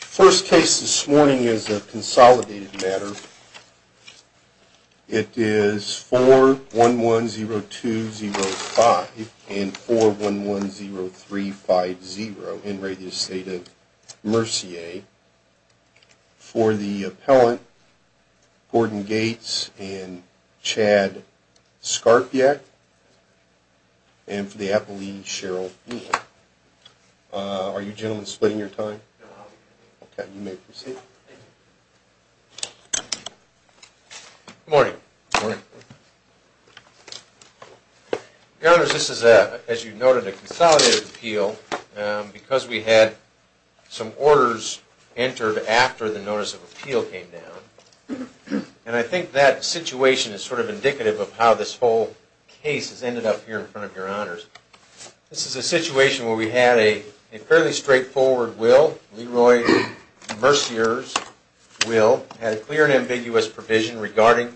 First case this morning is a consolidated matter. It is 4110205 and 4110350 in re Estate of Mercier for the appellant Gordon Gates and Chad Skarpiak and for the appellee Cheryl E. Are you gentlemen splitting your time? No. Okay, you may proceed. Thank you. Good morning. Good morning. Your honors, this is a, as you noted, a consolidated appeal because we had some orders entered after the notice of appeal came down. And I think that situation is sort of indicative of how this whole case has ended up here in front of your honors. This is a situation where we had a fairly straightforward will. Leroy Mercier's will had a clear and ambiguous provision regarding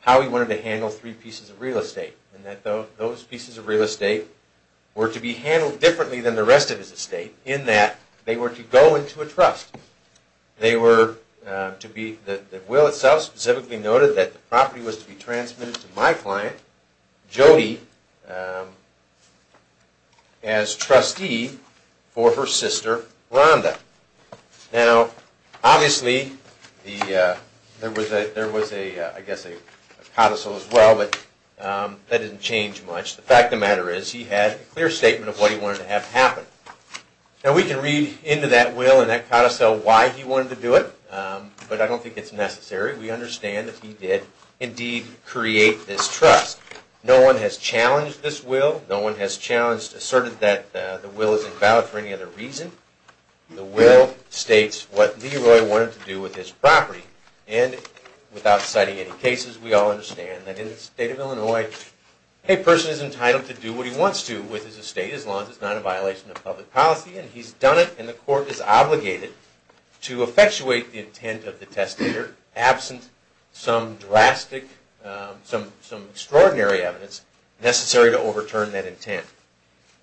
how he wanted to handle three pieces of real estate. And that those pieces of real estate were to be handled differently than the rest of his estate in that they were to go into a trust. They were to be, the will itself specifically noted that the property was to be transmitted to my client, Jody, as trustee for her sister, Rhonda. Now, obviously, there was a, I guess, a codicil as well, but that didn't change much. The fact of the matter is he had a clear statement of what he wanted to have happen. Now, we can read into that will and that codicil why he wanted to do it, but I don't think it's necessary. We understand that he did indeed create this trust. No one has challenged this will. No one has challenged, asserted that the will is invalid for any other reason. The will states what Leroy wanted to do with his property. And without citing any cases, we all understand that in the state of Illinois, a person is entitled to do what he wants to with his estate as long as it's not a violation of public policy and he's done it and the court is obligated to effectuate the intent of the testator absent some drastic, some extraordinary evidence necessary to overturn that intent.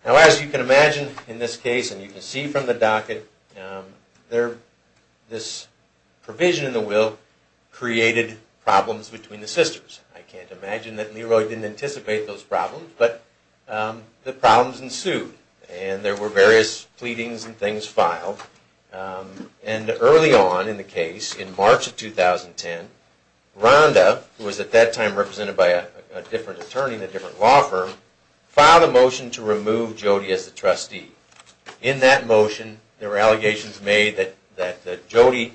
Now, as you can imagine in this case and you can see from the docket, this provision in the will created problems between the sisters. I can't imagine that Leroy didn't anticipate those problems, but the problems ensued and there were various pleadings and things filed. And early on in the case, in March of 2010, Rhonda, who was at that time represented by a different attorney in a different law firm, filed a motion to remove Jody as the trustee. In that motion, there were allegations made that Jody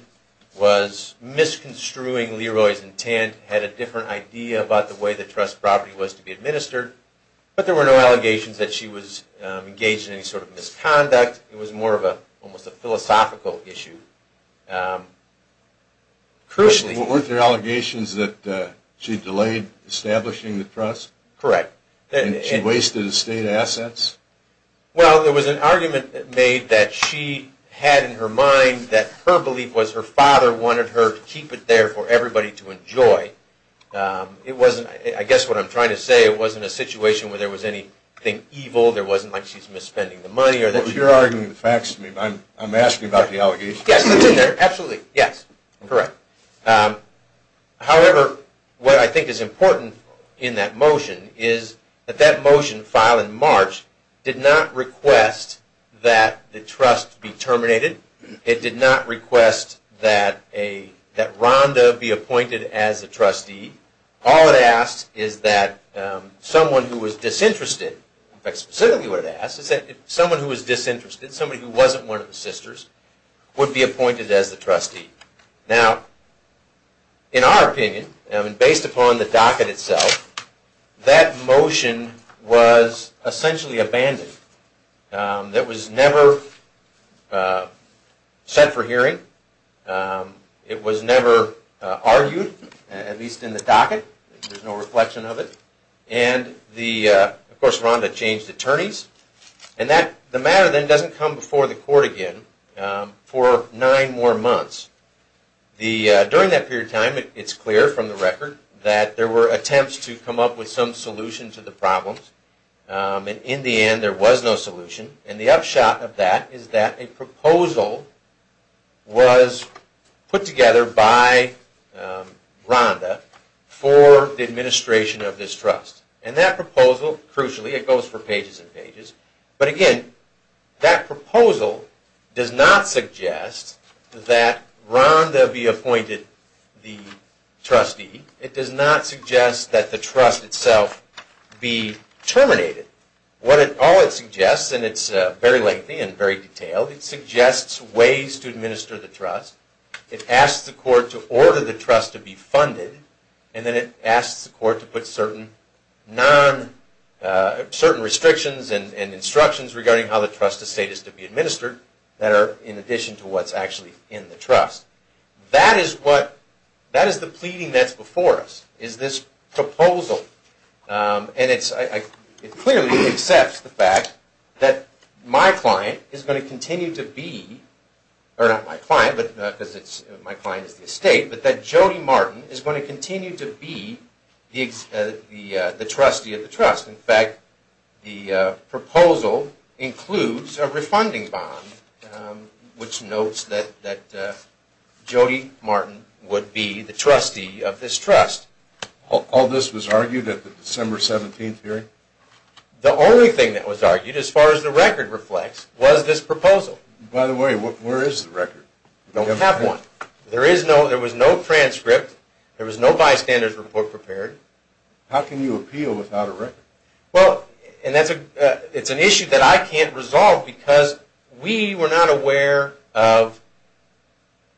was misconstruing Leroy's intent, had a different idea about the way the trust property was to be administered, but there were no allegations that she was engaged in any sort of misconduct. It was more of almost a philosophical issue. Weren't there allegations that she delayed establishing the trust? Correct. And she wasted estate assets? Well, there was an argument made that she had in her mind that her belief was her father wanted her to keep it there for everybody to enjoy. It wasn't, I guess what I'm trying to say, it wasn't a situation where there was anything evil, there wasn't like she's misspending the money. You're arguing the facts to me, but I'm asking about the allegations. Yes, that's in there. Absolutely. Yes. Correct. However, what I think is important in that motion is that that motion filed in March did not request that the trust be terminated. It did not request that Rhonda be appointed as a trustee. All it asked is that someone who was disinterested, in fact, specifically what it asked is that someone who was disinterested, somebody who wasn't one of the sisters would be appointed as the trustee. Now, in our opinion, based upon the docket itself, that motion was essentially abandoned. It was never set for hearing. It was never argued, at least in the docket. There's no reflection of it. Of course, Rhonda changed attorneys. The matter then doesn't come before the court again for nine more months. During that period of time, it's clear from the record that there were attempts to come up with some solution to the problems. In the end, there was no solution. The upshot of that is that a proposal was put together by Rhonda for the administration of this trust. That proposal, crucially, it goes for pages and pages. But again, that proposal does not suggest that Rhonda be appointed the trustee. It does not suggest that the trust itself be terminated. All it suggests, and it's very lengthy and very detailed, it suggests ways to administer the trust. It asks the court to order the trust to be funded. Then it asks the court to put certain restrictions and instructions regarding how the trust estate is to be administered that are in addition to what's actually in the trust. That is the pleading that's before us, is this proposal. It clearly accepts the fact that my client is going to continue to be, or not my client because my client is the estate, but that Jody Martin is going to continue to be the trustee of the trust. In fact, the proposal includes a refunding bond, which notes that Jody Martin would be the trustee of this trust. All this was argued at the December 17th hearing? The only thing that was argued, as far as the record reflects, was this proposal. By the way, where is the record? We don't have one. There was no transcript. There was no bystanders report prepared. How can you appeal without a record? It's an issue that I can't resolve because we were not aware of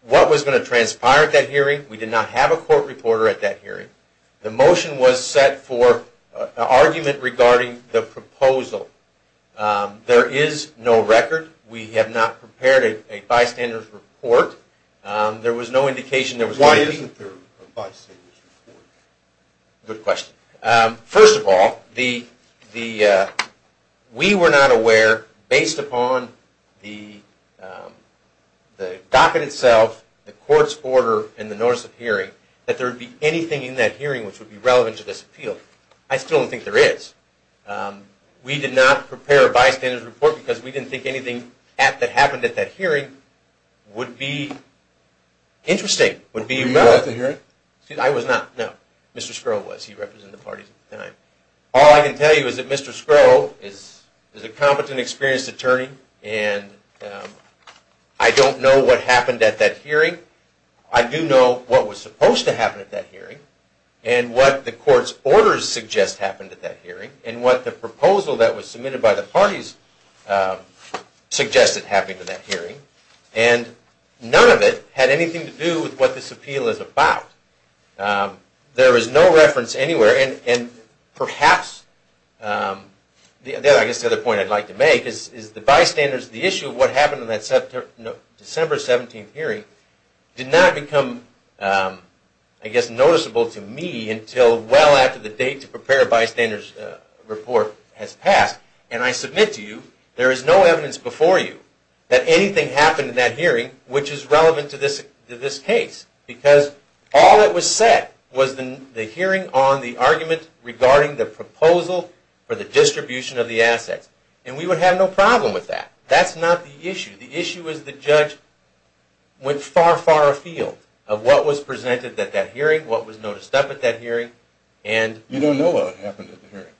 what was going to transpire at that hearing. We did not have a court reporter at that hearing. The motion was set for an argument regarding the proposal. There is no record. We have not prepared a bystanders report. There was no indication there was going to be... Why isn't there a bystanders report? Good question. First of all, we were not aware, based upon the docket itself, the court's order, and the notice of hearing, that there would be anything in that hearing which would be relevant to this appeal. I still don't think there is. We did not prepare a bystanders report because we didn't think anything that happened at that hearing would be interesting. Were you at the hearing? I was not, no. Mr. Scrow was. He represented the parties at the time. All I can tell you is that Mr. Scrow is a competent, experienced attorney, and I don't know what happened at that hearing. I do know what was supposed to happen at that hearing, and what the court's orders suggest happened at that hearing, and what the proposal that was submitted by the parties suggested happened at that hearing. None of it had anything to do with what this appeal is about. There is no reference anywhere, and perhaps the other point I'd like to make is the issue of what happened in that December 17th hearing did not become noticeable to me until well after the date to prepare a bystanders report has passed, and I submit to you there is no evidence before you that anything happened in that hearing which is relevant to this case because all that was said was the hearing on the argument regarding the proposal for the distribution of the assets, and we would have no problem with that. That's not the issue. The issue is the judge went far, far afield of what was presented at that hearing, what was noticed up at that hearing, and... You don't know what happened at the hearing.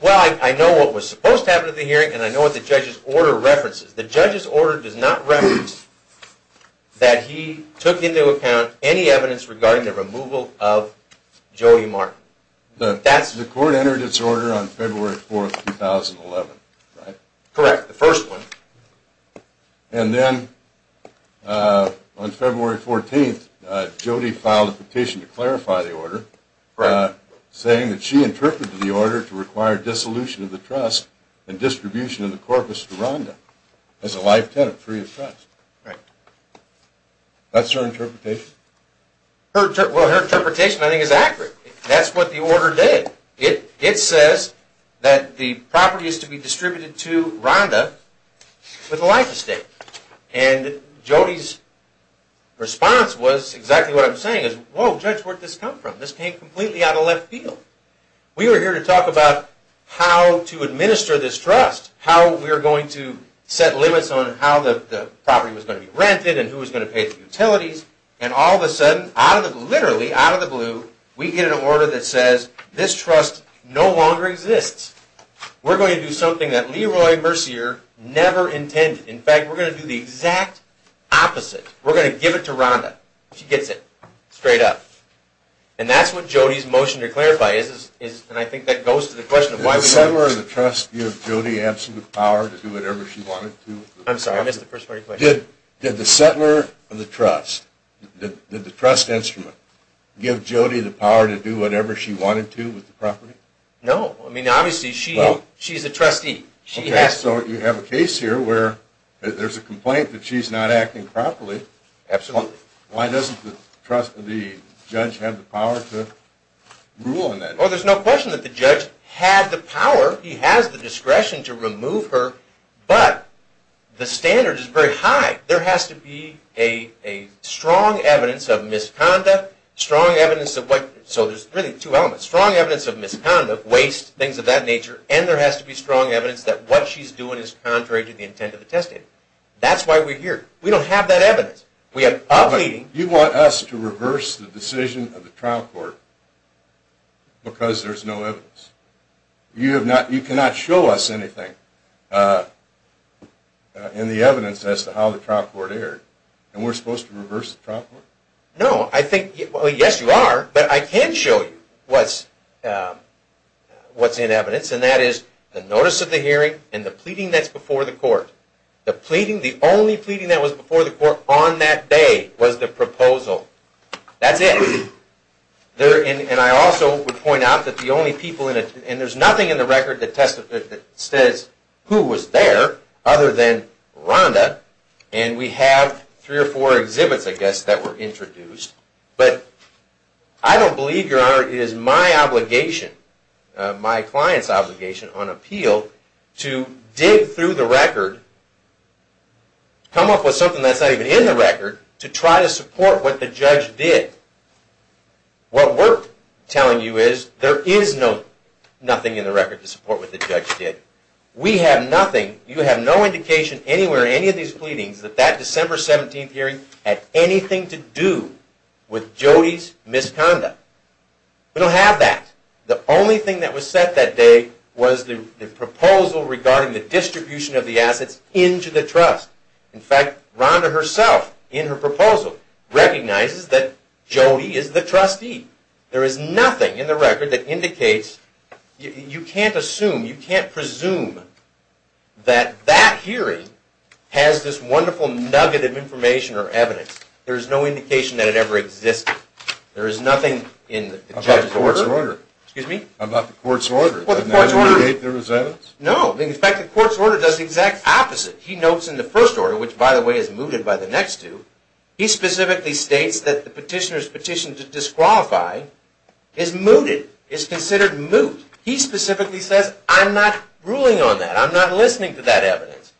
Well, I know what was supposed to happen at the hearing, and I know what the judge's order references. The judge's order does not reference that he took into account any evidence regarding the removal of Jody Martin. The court entered its order on February 4th, 2011, right? Correct, the first one. And then on February 14th, Jody filed a petition to clarify the order... Correct. ...saying that she interpreted the order to require dissolution of the trust and distribution of the corpus to Rhonda as a life tenant free of trust. Right. That's her interpretation? Well, her interpretation I think is accurate. That's what the order did. It says that the property is to be distributed to Rhonda with a life estate, and Jody's response was exactly what I'm saying is, whoa, judge, where'd this come from? This came completely out of left field. We were here to talk about how to administer this trust, how we were going to set limits on how the property was going to be rented and who was going to pay the utilities, and all of a sudden, literally out of the blue, we get an order that says this trust no longer exists. We're going to do something that Leroy Mercier never intended. In fact, we're going to do the exact opposite. We're going to give it to Rhonda. She gets it straight up. And that's what Jody's motion to clarify is, and I think that goes to the question of why we do this. Did the settler of the trust give Jody absolute power to do whatever she wanted to? I'm sorry, I missed the first part of your question. Did the settler of the trust, the trust instrument, give Jody the power to do whatever she wanted to with the property? No. I mean, obviously, she's a trustee. Okay, so you have a case here where there's a complaint that she's not acting properly. Absolutely. Why doesn't the judge have the power to rule on that? Well, there's no question that the judge had the power. He has the discretion to remove her, but the standard is very high. There has to be a strong evidence of misconduct, strong evidence of what – so there's really two elements, strong evidence of misconduct, waste, things of that nature, and there has to be strong evidence that what she's doing is contrary to the intent of the testimony. That's why we're here. We don't have that evidence. You want us to reverse the decision of the trial court because there's no evidence? You cannot show us anything in the evidence as to how the trial court erred, and we're supposed to reverse the trial court? No, I think – well, yes, you are, but I can show you what's in evidence, and that is the notice of the hearing and the pleading that's before the court. The pleading, the only pleading that was before the court on that day was the proposal. That's it. And I also would point out that the only people in it – and there's nothing in the record that says who was there other than Rhonda, and we have three or four exhibits, I guess, that were introduced, but I don't believe, Your Honor, it is my obligation, my client's obligation on appeal, to dig through the record, come up with something that's not even in the record to try to support what the judge did. What we're telling you is there is nothing in the record to support what the judge did. We have nothing, you have no indication anywhere in any of these pleadings that that December 17th hearing had anything to do with Jody's misconduct. We don't have that. The only thing that was set that day was the proposal regarding the distribution of the assets into the trust. In fact, Rhonda herself, in her proposal, recognizes that Jody is the trustee. There is nothing in the record that indicates – you can't assume, you can't presume that that hearing has this wonderful nugget of information or evidence. There is no indication that it ever existed. There is nothing in the judge's order. About the court's order. Excuse me? About the court's order. Well, the court's order – Does it indicate there was evidence? No. In fact, the court's order does the exact opposite. He notes in the first order, which, by the way, is mooted by the next two, he specifically states that the petitioner's petition to disqualify is mooted, is considered moot. He specifically says, I'm not ruling on that. I'm not listening to that evidence.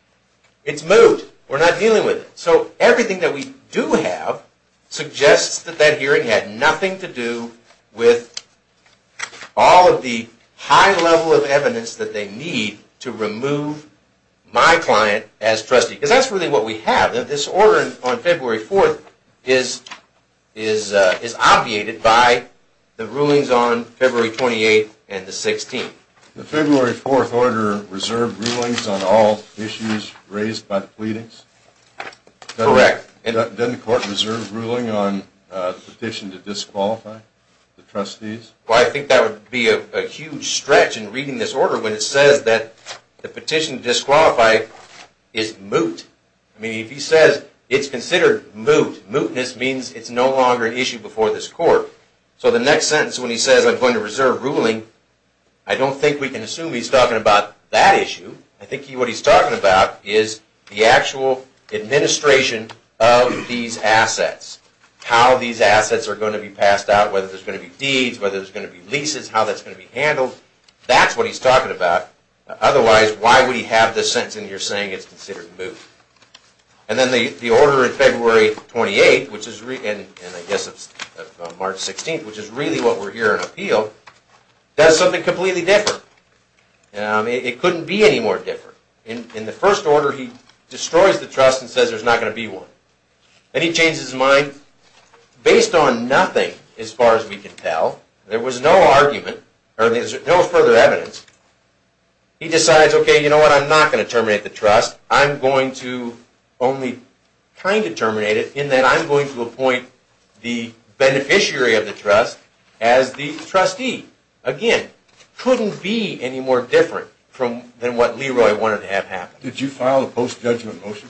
It's moot. We're not dealing with it. So everything that we do have suggests that that hearing had nothing to do with all of the high level of evidence that they need to remove my client as trustee. Because that's really what we have. This order on February 4th is obviated by the rulings on February 28th and the 16th. The February 4th order reserved rulings on all issues raised by the pleadings? Correct. Doesn't the court reserve ruling on the petition to disqualify the trustees? Well, I think that would be a huge stretch in reading this order when it says that the petition to disqualify is moot. I mean, if he says it's considered moot, mootness means it's no longer an issue before this court. So the next sentence when he says I'm going to reserve ruling, I don't think we can assume he's talking about that issue. I think what he's talking about is the actual administration of these assets. How these assets are going to be passed out, whether there's going to be deeds, whether there's going to be leases, how that's going to be handled. That's what he's talking about. Otherwise, why would he have this sentence and you're saying it's considered moot? And then the order in February 28th, and I guess it's March 16th, which is really what we're hearing appealed, does something completely different. It couldn't be any more different. In the first order, he destroys the trust and says there's not going to be one. Then he changes his mind. Based on nothing, as far as we can tell, there was no further evidence. He decides, okay, you know what, I'm not going to terminate the trust. I'm going to only kind of terminate it in that I'm going to appoint the beneficiary of the trust as the trustee. Again, couldn't be any more different than what Leroy wanted to have happen. Did you file a post-judgment motion?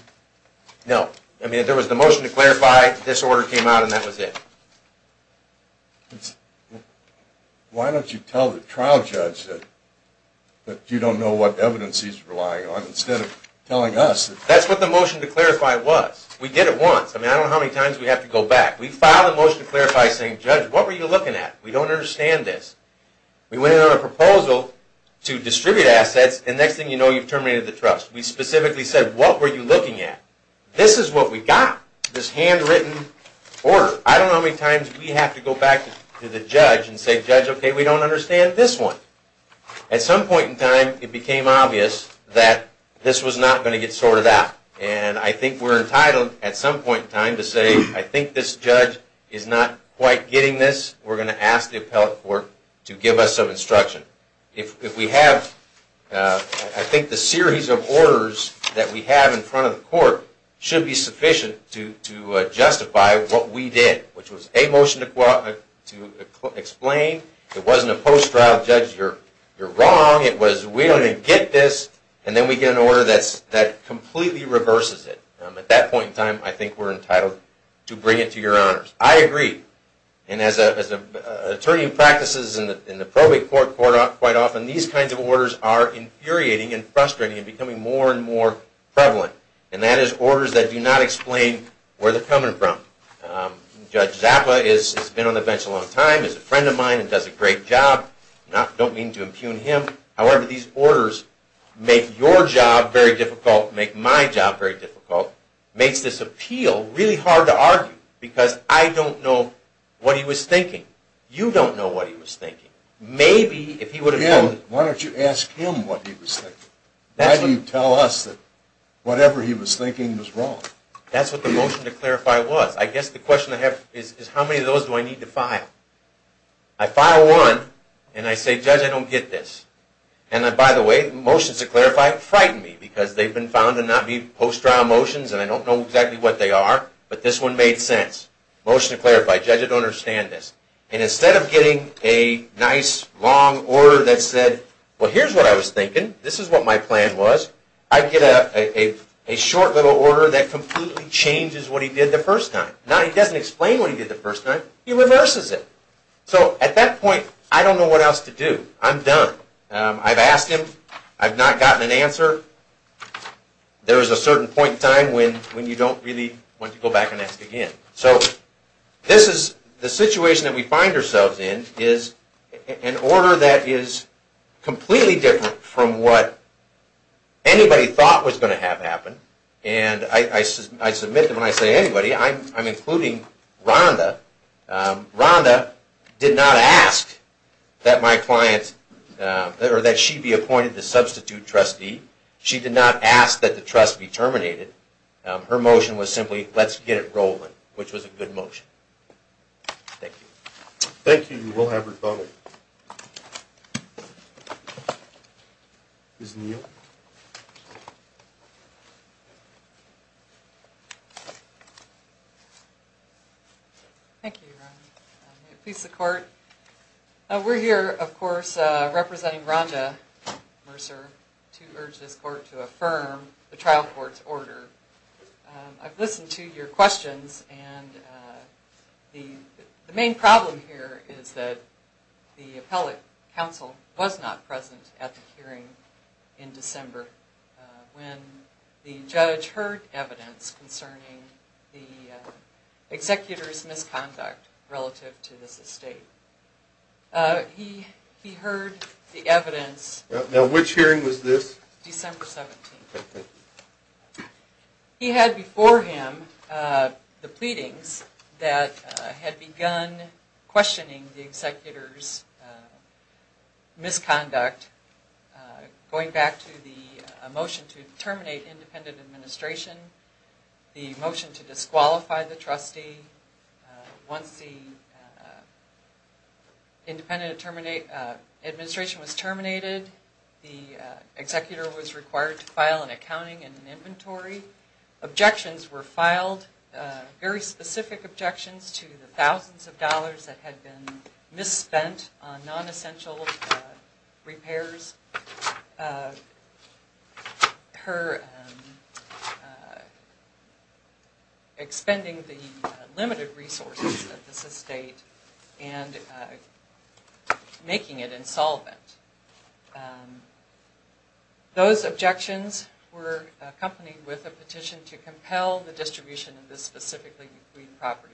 No. I mean, there was the motion to clarify, this order came out, and that was it. Why don't you tell the trial judge that you don't know what evidence he's relying on instead of telling us? That's what the motion to clarify was. We did it once. I mean, I don't know how many times we have to go back. We filed a motion to clarify saying, Judge, what were you looking at? We don't understand this. We went in on a proposal to distribute assets, and next thing you know, you've terminated the trust. We specifically said, what were you looking at? This is what we got, this handwritten order. I don't know how many times we have to go back to the judge and say, Judge, okay, we don't understand this one. At some point in time, it became obvious that this was not going to get sorted out, and I think we're entitled at some point in time to say, I think this judge is not quite getting this. We're going to ask the appellate court to give us some instruction. I think the series of orders that we have in front of the court should be sufficient to justify what we did, which was a motion to explain. It wasn't a post-trial, Judge, you're wrong. It was, we don't even get this. And then we get an order that completely reverses it. At that point in time, I think we're entitled to bring it to your honors. I agree. And as an attorney who practices in the probate court quite often, these kinds of orders are infuriating and frustrating and becoming more and more prevalent, and that is orders that do not explain where they're coming from. Judge Zappa has been on the bench a long time, is a friend of mine and does a great job. I don't mean to impugn him. However, these orders make your job very difficult, make my job very difficult, makes this appeal really hard to argue because I don't know what he was thinking. You don't know what he was thinking. Again, why don't you ask him what he was thinking? Why do you tell us that whatever he was thinking was wrong? That's what the motion to clarify was. I guess the question I have is how many of those do I need to file? I file one and I say, Judge, I don't get this. And by the way, motions to clarify frighten me because they've been found to not be post-trial motions and I don't know exactly what they are, but this one made sense. Motion to clarify, Judge, I don't understand this. And instead of getting a nice, long order that said, well, here's what I was thinking, this is what my plan was, I get a short little order that completely changes what he did the first time. Now he doesn't explain what he did the first time, he reverses it. So at that point, I don't know what else to do. I'm done. I've asked him. I've not gotten an answer. There is a certain point in time when you don't really want to go back and ask again. So this is the situation that we find ourselves in is an order that is completely different from what anybody thought was going to have happen. And I submit them and I say, anybody, I'm including Rhonda. Rhonda did not ask that she be appointed the substitute trustee. She did not ask that the trust be terminated. Her motion was simply, let's get it rolling, which was a good motion. Thank you. Thank you. We'll have her voted. Ms. Neal. Thank you, Ron. May it please the Court. We're here, of course, representing Rhonda Mercer to urge this Court to affirm the trial court's order. I've listened to your questions. And the main problem here is that the appellate counsel was not present at the hearing in December when the judge heard evidence concerning the executor's misconduct relative to this estate. He heard the evidence. Now, which hearing was this? December 17th. He had before him the pleadings that had begun questioning the executor's misconduct, going back to the motion to terminate independent administration, the motion to disqualify the trustee. Once the independent administration was terminated, the executor was required to file an accounting and an inventory. Objections were filed, very specific objections to the thousands of dollars that had been misspent on non-essential repairs, her expending the limited resources of this estate and making it insolvent. Those objections were accompanied with a petition to compel the distribution of this specifically agreed property.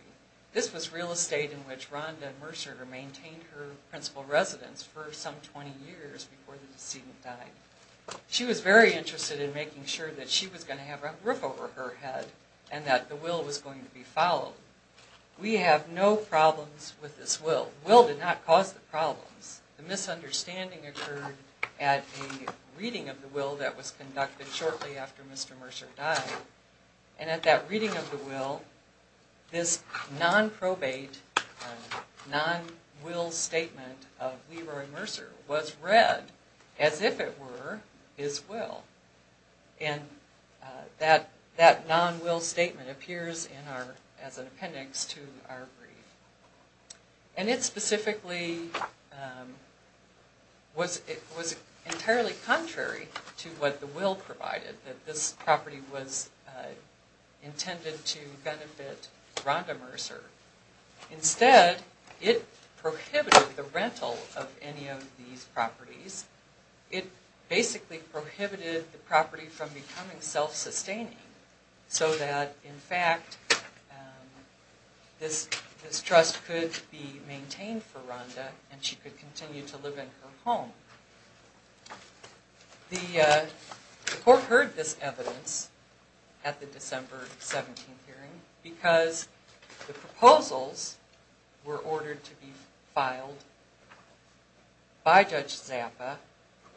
This was real estate in which Rhonda Mercer maintained her principal residence for some 20 years before the decedent died. She was very interested in making sure that she was going to have a roof over her head and that the will was going to be followed. We have no problems with this will. The will did not cause the problems. The misunderstanding occurred at a reading of the will that was conducted shortly after Mr. Mercer died. At that reading of the will, this non-probate, non-will statement of Weaver and Mercer was read as if it were his will. That non-will statement appears as an appendix to our brief. And it specifically was entirely contrary to what the will provided, that this property was intended to benefit Rhonda Mercer. Instead, it prohibited the rental of any of these properties. It basically prohibited the property from becoming self-sustaining so that, in fact, this trust could be maintained for Rhonda and she could continue to live in her home. The court heard this evidence at the December 17th hearing because the proposals were ordered to be filed by Judge Zappa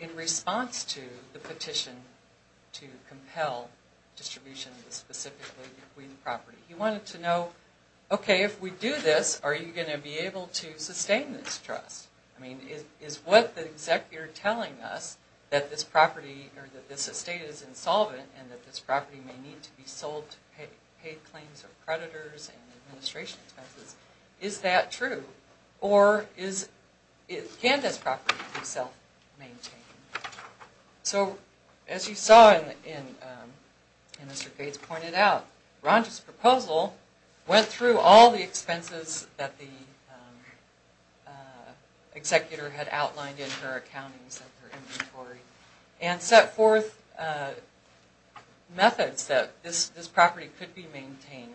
in response to the petition to compel distribution of the specifically bequeathed property. He wanted to know, okay, if we do this, are you going to be able to sustain this trust? I mean, is what the executor telling us, that this estate is insolvent and that this property may need to be sold to pay claims of creditors and administration expenses, is that true? Or can this property be self-maintained? So, as you saw and as Mr. Gates pointed out, Rhonda's proposal went through all the expenses that the executor had outlined in her accountings of her inventory and set forth methods that this property could be maintained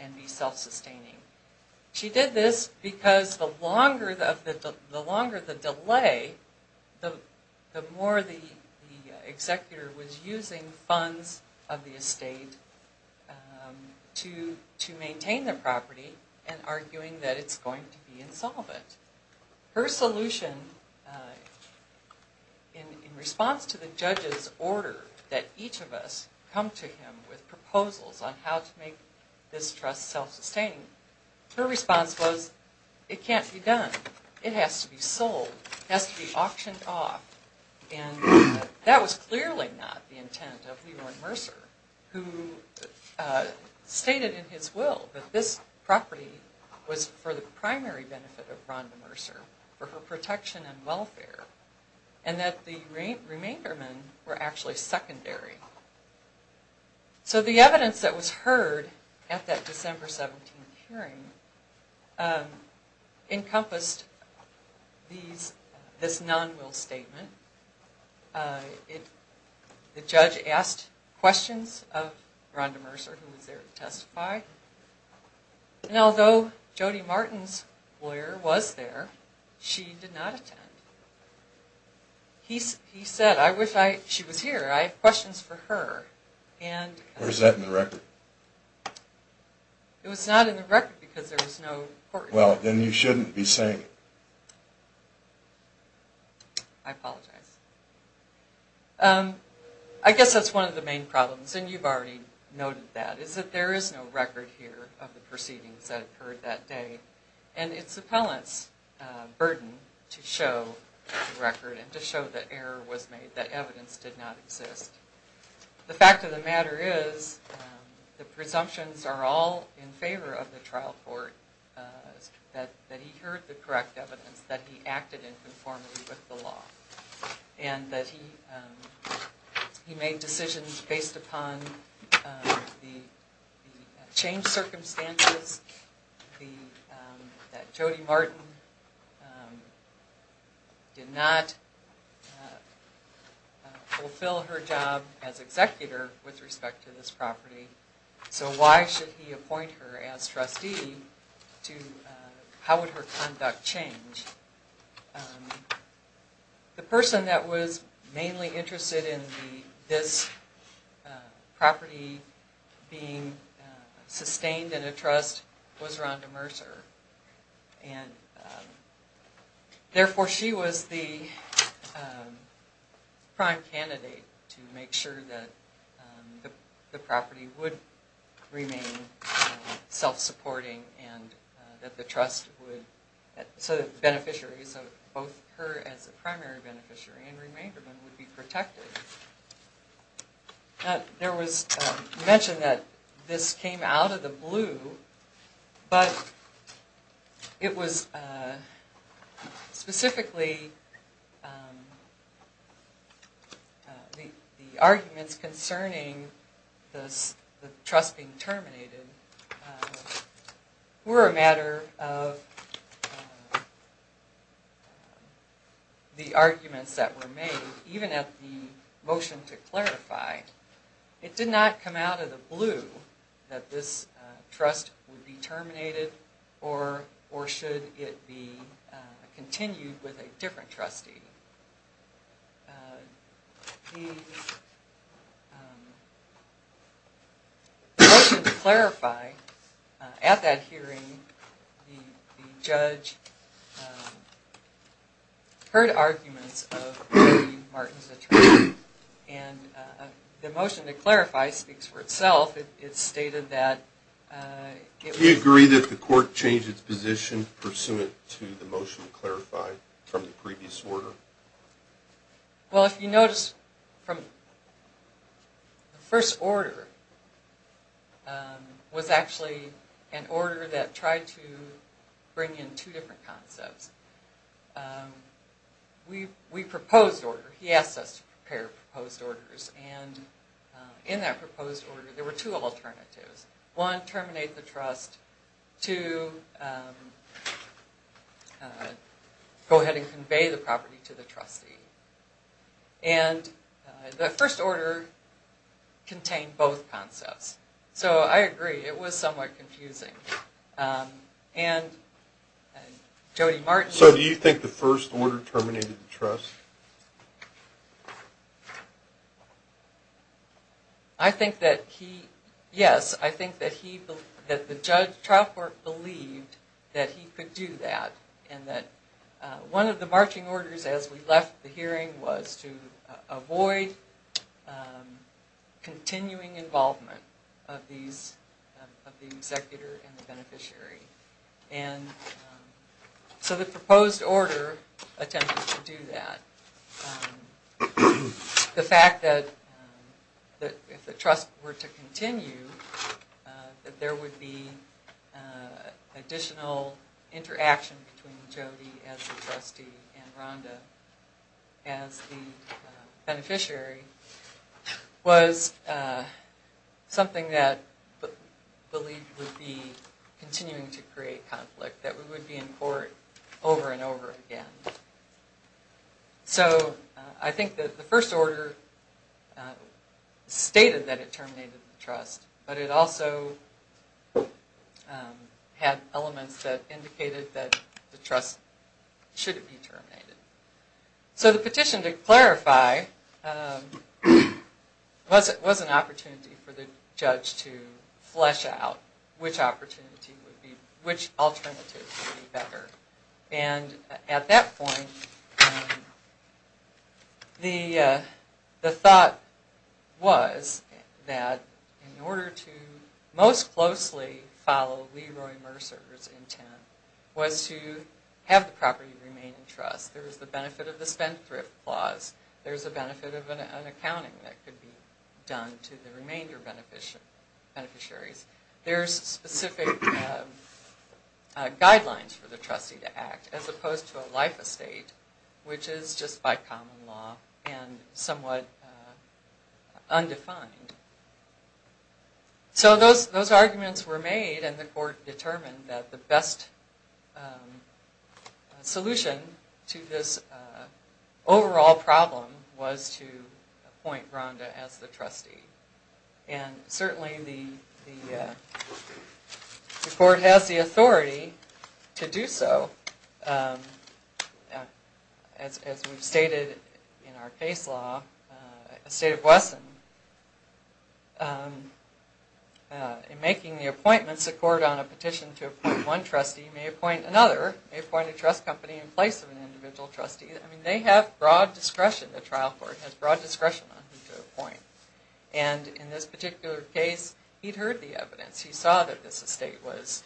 and be self-sustaining. She did this because the longer the delay, the more the executor was using funds of the estate to maintain the property and arguing that it's going to be insolvent. Her solution in response to the judge's order that each of us come to him with proposals on how to make this trust self-sustaining, her response was, it can't be done. It has to be sold. It has to be auctioned off. And that was clearly not the intent of Leroy Mercer, who stated in his will that this property was for the primary benefit of Rhonda Mercer, for her protection and welfare, and that the remaindermen were actually secondary. So the evidence that was heard at that December 17th hearing encompassed this non-will statement. The judge asked questions of Rhonda Mercer, who was there to testify. And although Jody Martin's lawyer was there, she did not attend. He said, I wish she was here. I have questions for her. Or is that in the record? It was not in the record because there was no court order. Well, then you shouldn't be saying it. I apologize. I guess that's one of the main problems, and you've already noted that, is that there is no record here of the proceedings that occurred that day. And it's the appellant's burden to show the record and to show that error was made, that evidence did not exist. The fact of the matter is, the presumptions are all in favor of the trial court, that he heard the correct evidence, that he acted in conformity with the law, and that he made decisions based upon the changed circumstances, that Jody Martin did not fulfill her job as executor with respect to this property. So why should he appoint her as trustee? How would her conduct change? The person that was mainly interested in this property being sustained in a trust was Rhonda Mercer. And therefore, she was the prime candidate to make sure that the property would remain self-supporting and that the beneficiaries, both her as a primary beneficiary and Remainderman, would be protected. There was mention that this came out of the blue, but it was specifically the arguments concerning the trust being terminated were a matter of the arguments that were made, even at the motion to clarify. It did not come out of the blue that this trust would be terminated or should it be continued with a different trustee. The motion to clarify, at that hearing, the judge heard arguments of Jody Martin's attorney, and the motion to clarify speaks for itself. It stated that... Do you agree that the court changed its position pursuant to the motion to clarify from the previous order? Well, if you notice, from the first order, was actually an order that tried to bring in two different concepts. We proposed order. He asked us to prepare proposed orders. And in that proposed order, there were two alternatives. One, terminate the trust. Two, go ahead and convey the property to the trustee. And the first order contained both concepts. So I agree, it was somewhat confusing. And Jody Martin... I think that he... Yes, I think that the trial court believed that he could do that. And that one of the marching orders as we left the hearing was to avoid continuing involvement of the executor and the beneficiary. And so the proposed order attempted to do that. The fact that if the trust were to continue, that there would be additional interaction between Jody as the trustee and Rhonda as the beneficiary, was something that believed would be continuing to create conflict, that we would be in court over and over again. So I think that the first order stated that it terminated the trust, but it also had elements that indicated that the trust shouldn't be terminated. So the petition, to clarify, was an opportunity for the judge to flesh out which alternative would be better. And at that point, the thought was that in order to most closely follow Leroy Mercer's intent was to have the property remain in trust. There was the benefit of the spendthrift clause. There's the benefit of an accounting that could be done to the remainder beneficiaries. There's specific guidelines for the trustee to act, as opposed to a life estate, which is just by common law and somewhat undefined. So those arguments were made, and the court determined that the best solution to this overall problem was to appoint Rhonda as the trustee. And certainly the court has the authority to do so. As we've stated in our case law, a state of Wesson, in making the appointments, a court on a petition to appoint one trustee may appoint another, may appoint a trust company in place of an individual trustee. I mean, they have broad discretion, the trial court, has broad discretion on who to appoint. And in this particular case, he'd heard the evidence. He saw that this estate was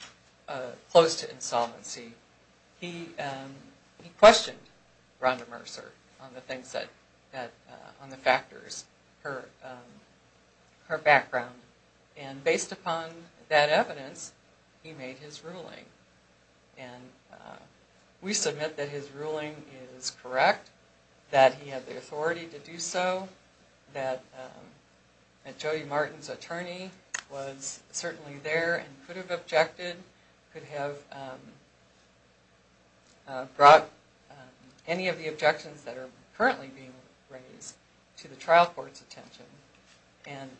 close to insolvency. He questioned Rhonda Mercer on the factors, her background. And based upon that evidence, he made his ruling. And we submit that his ruling is correct, that he had the authority to do so, that Jody Martin's attorney was certainly there and could have objected, could have brought any of the objections that are currently being raised to the trial court's attention. And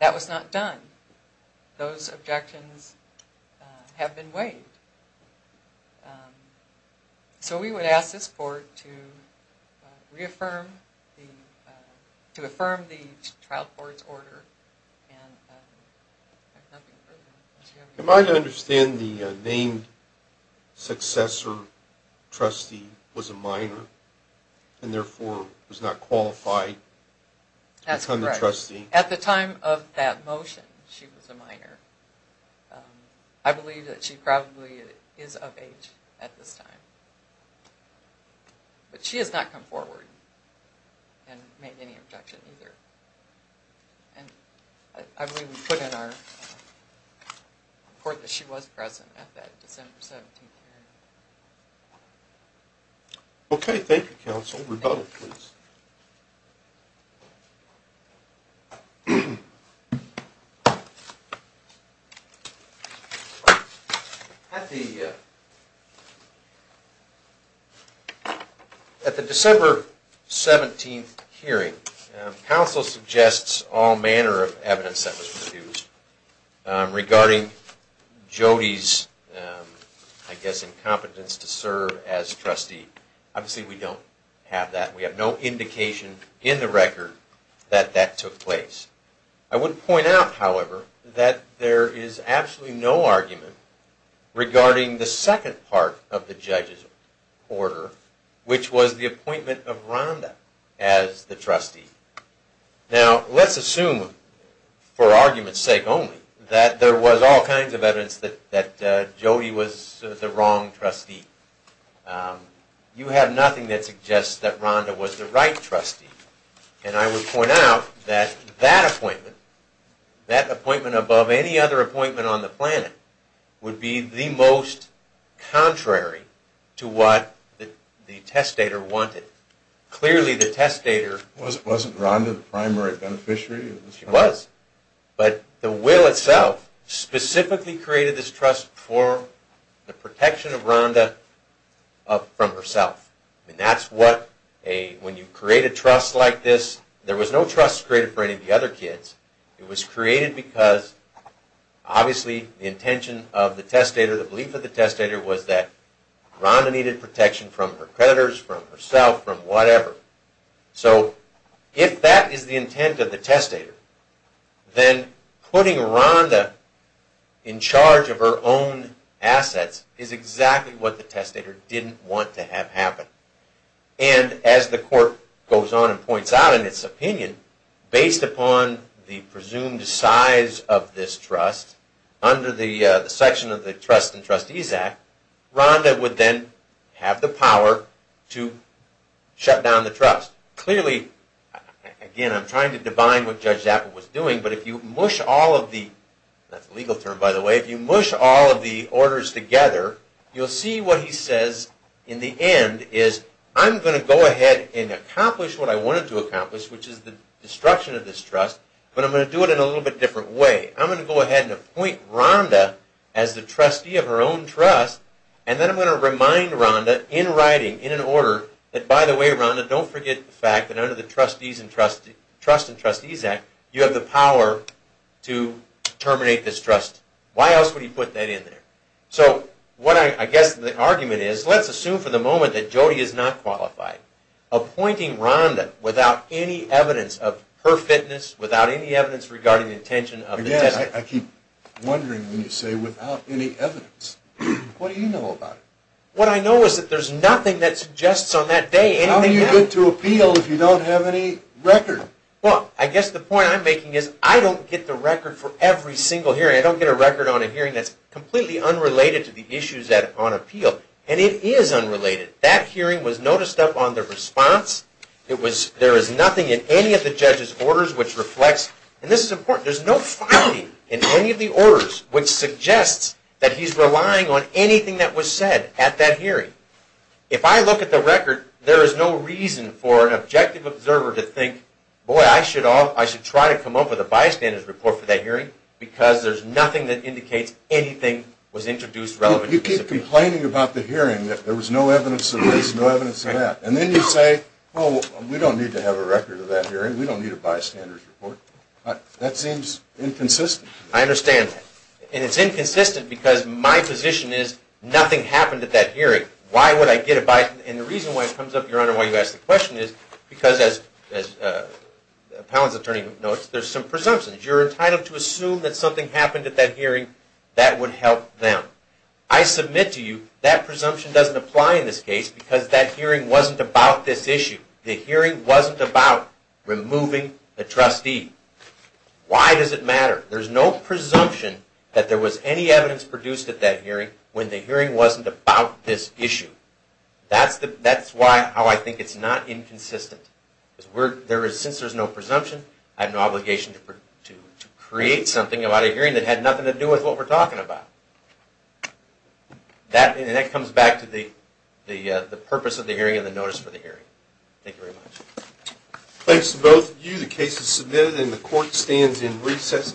that was not done. Those objections have been waived. So we would ask this court to reaffirm the trial court's order. Am I to understand the named successor trustee was a minor and therefore was not qualified to become the trustee? That's correct. At the time of that motion, she was a minor. I believe that she probably is of age at this time. But she has not come forward and made any objection either. And I believe we put in our report that she was present at that December 17th hearing. Okay. Thank you, counsel. Rebuttal, please. At the December 17th hearing, counsel suggests all manner of evidence that was produced regarding Jody's, I guess, incompetence to serve as trustee. Obviously, we don't have that. We have no indication in the record that that took place. I would point out, however, that there is absolutely no argument regarding the second part of the judge's order, which was the appointment of Rhonda as the trustee. Now, let's assume, for argument's sake only, that there was all kinds of evidence that Jody was the wrong trustee. You have nothing that suggests that Rhonda was the right trustee. And I would point out that that appointment, that appointment above any other appointment on the planet, would be the most contrary to what the testator wanted. Clearly, the testator... Wasn't Rhonda the primary beneficiary? She was. But the will itself specifically created this trust for the protection of Rhonda from herself. That's what... When you create a trust like this, there was no trust created for any of the other kids. It was created because, obviously, the intention of the testator, the belief of the testator, was that Rhonda needed protection from her creditors, from herself, from whatever. So, if that is the intent of the testator, then putting Rhonda in charge of her own assets is exactly what the testator didn't want to have happen. And, as the court goes on and points out in its opinion, based upon the presumed size of this trust, under the section of the Trust and Trustees Act, Rhonda would then have the power to shut down the trust. Clearly, again, I'm trying to divine what Judge Zappel was doing, but if you mush all of the... That's a legal term, by the way. If you mush all of the orders together, you'll see what he says in the end is, I'm going to go ahead and accomplish what I wanted to accomplish, which is the destruction of this trust, but I'm going to do it in a little bit different way. I'm going to go ahead and appoint Rhonda as the trustee of her own trust, and then I'm going to remind Rhonda, in writing, in an order, that, by the way, Rhonda, don't forget the fact that under the Trust and Trustees Act, you have the power to terminate this trust. Why else would he put that in there? So what I guess the argument is, let's assume for the moment that Jody is not qualified. Appointing Rhonda without any evidence of her fitness, without any evidence regarding the intention of the test... Again, I keep wondering when you say without any evidence. What do you know about it? What I know is that there's nothing that suggests on that day... How do you get to appeal if you don't have any record? Well, I guess the point I'm making is, I don't get the record for every single hearing. I don't get a record on a hearing that's completely unrelated to the issues on appeal. And it is unrelated. That hearing was noticed up on the response. There is nothing in any of the judge's orders which reflects... And this is important. There's no finding in any of the orders which suggests that he's relying on anything that was said at that hearing. If I look at the record, there is no reason for an objective observer to think, boy, I should try to come up with a bystander's report for that hearing, because there's nothing that indicates anything was introduced relevant... You keep complaining about the hearing, that there was no evidence of this, no evidence of that. And then you say, well, we don't need to have a record of that hearing. We don't need a bystander's report. That seems inconsistent. I understand that. And it's inconsistent because my position is, nothing happened at that hearing. Why would I get a bystander's report? And the reason why it comes up, Your Honor, why you ask the question is because, as the appellant's attorney notes, there's some presumptions. You're entitled to assume that something happened at that hearing that would help them. I submit to you that presumption doesn't apply in this case The hearing wasn't about removing the trustee. Why does it matter? There's no presumption that there was any evidence produced at that hearing when the hearing wasn't about this issue. That's how I think it's not inconsistent. Since there's no presumption, I have no obligation to create something about a hearing that had nothing to do with what we're talking about. And that comes back to the purpose of the hearing and the notice for the hearing. Thank you very much. Thanks to both of you. The case is submitted, and the court stands in recess until 11 p.m.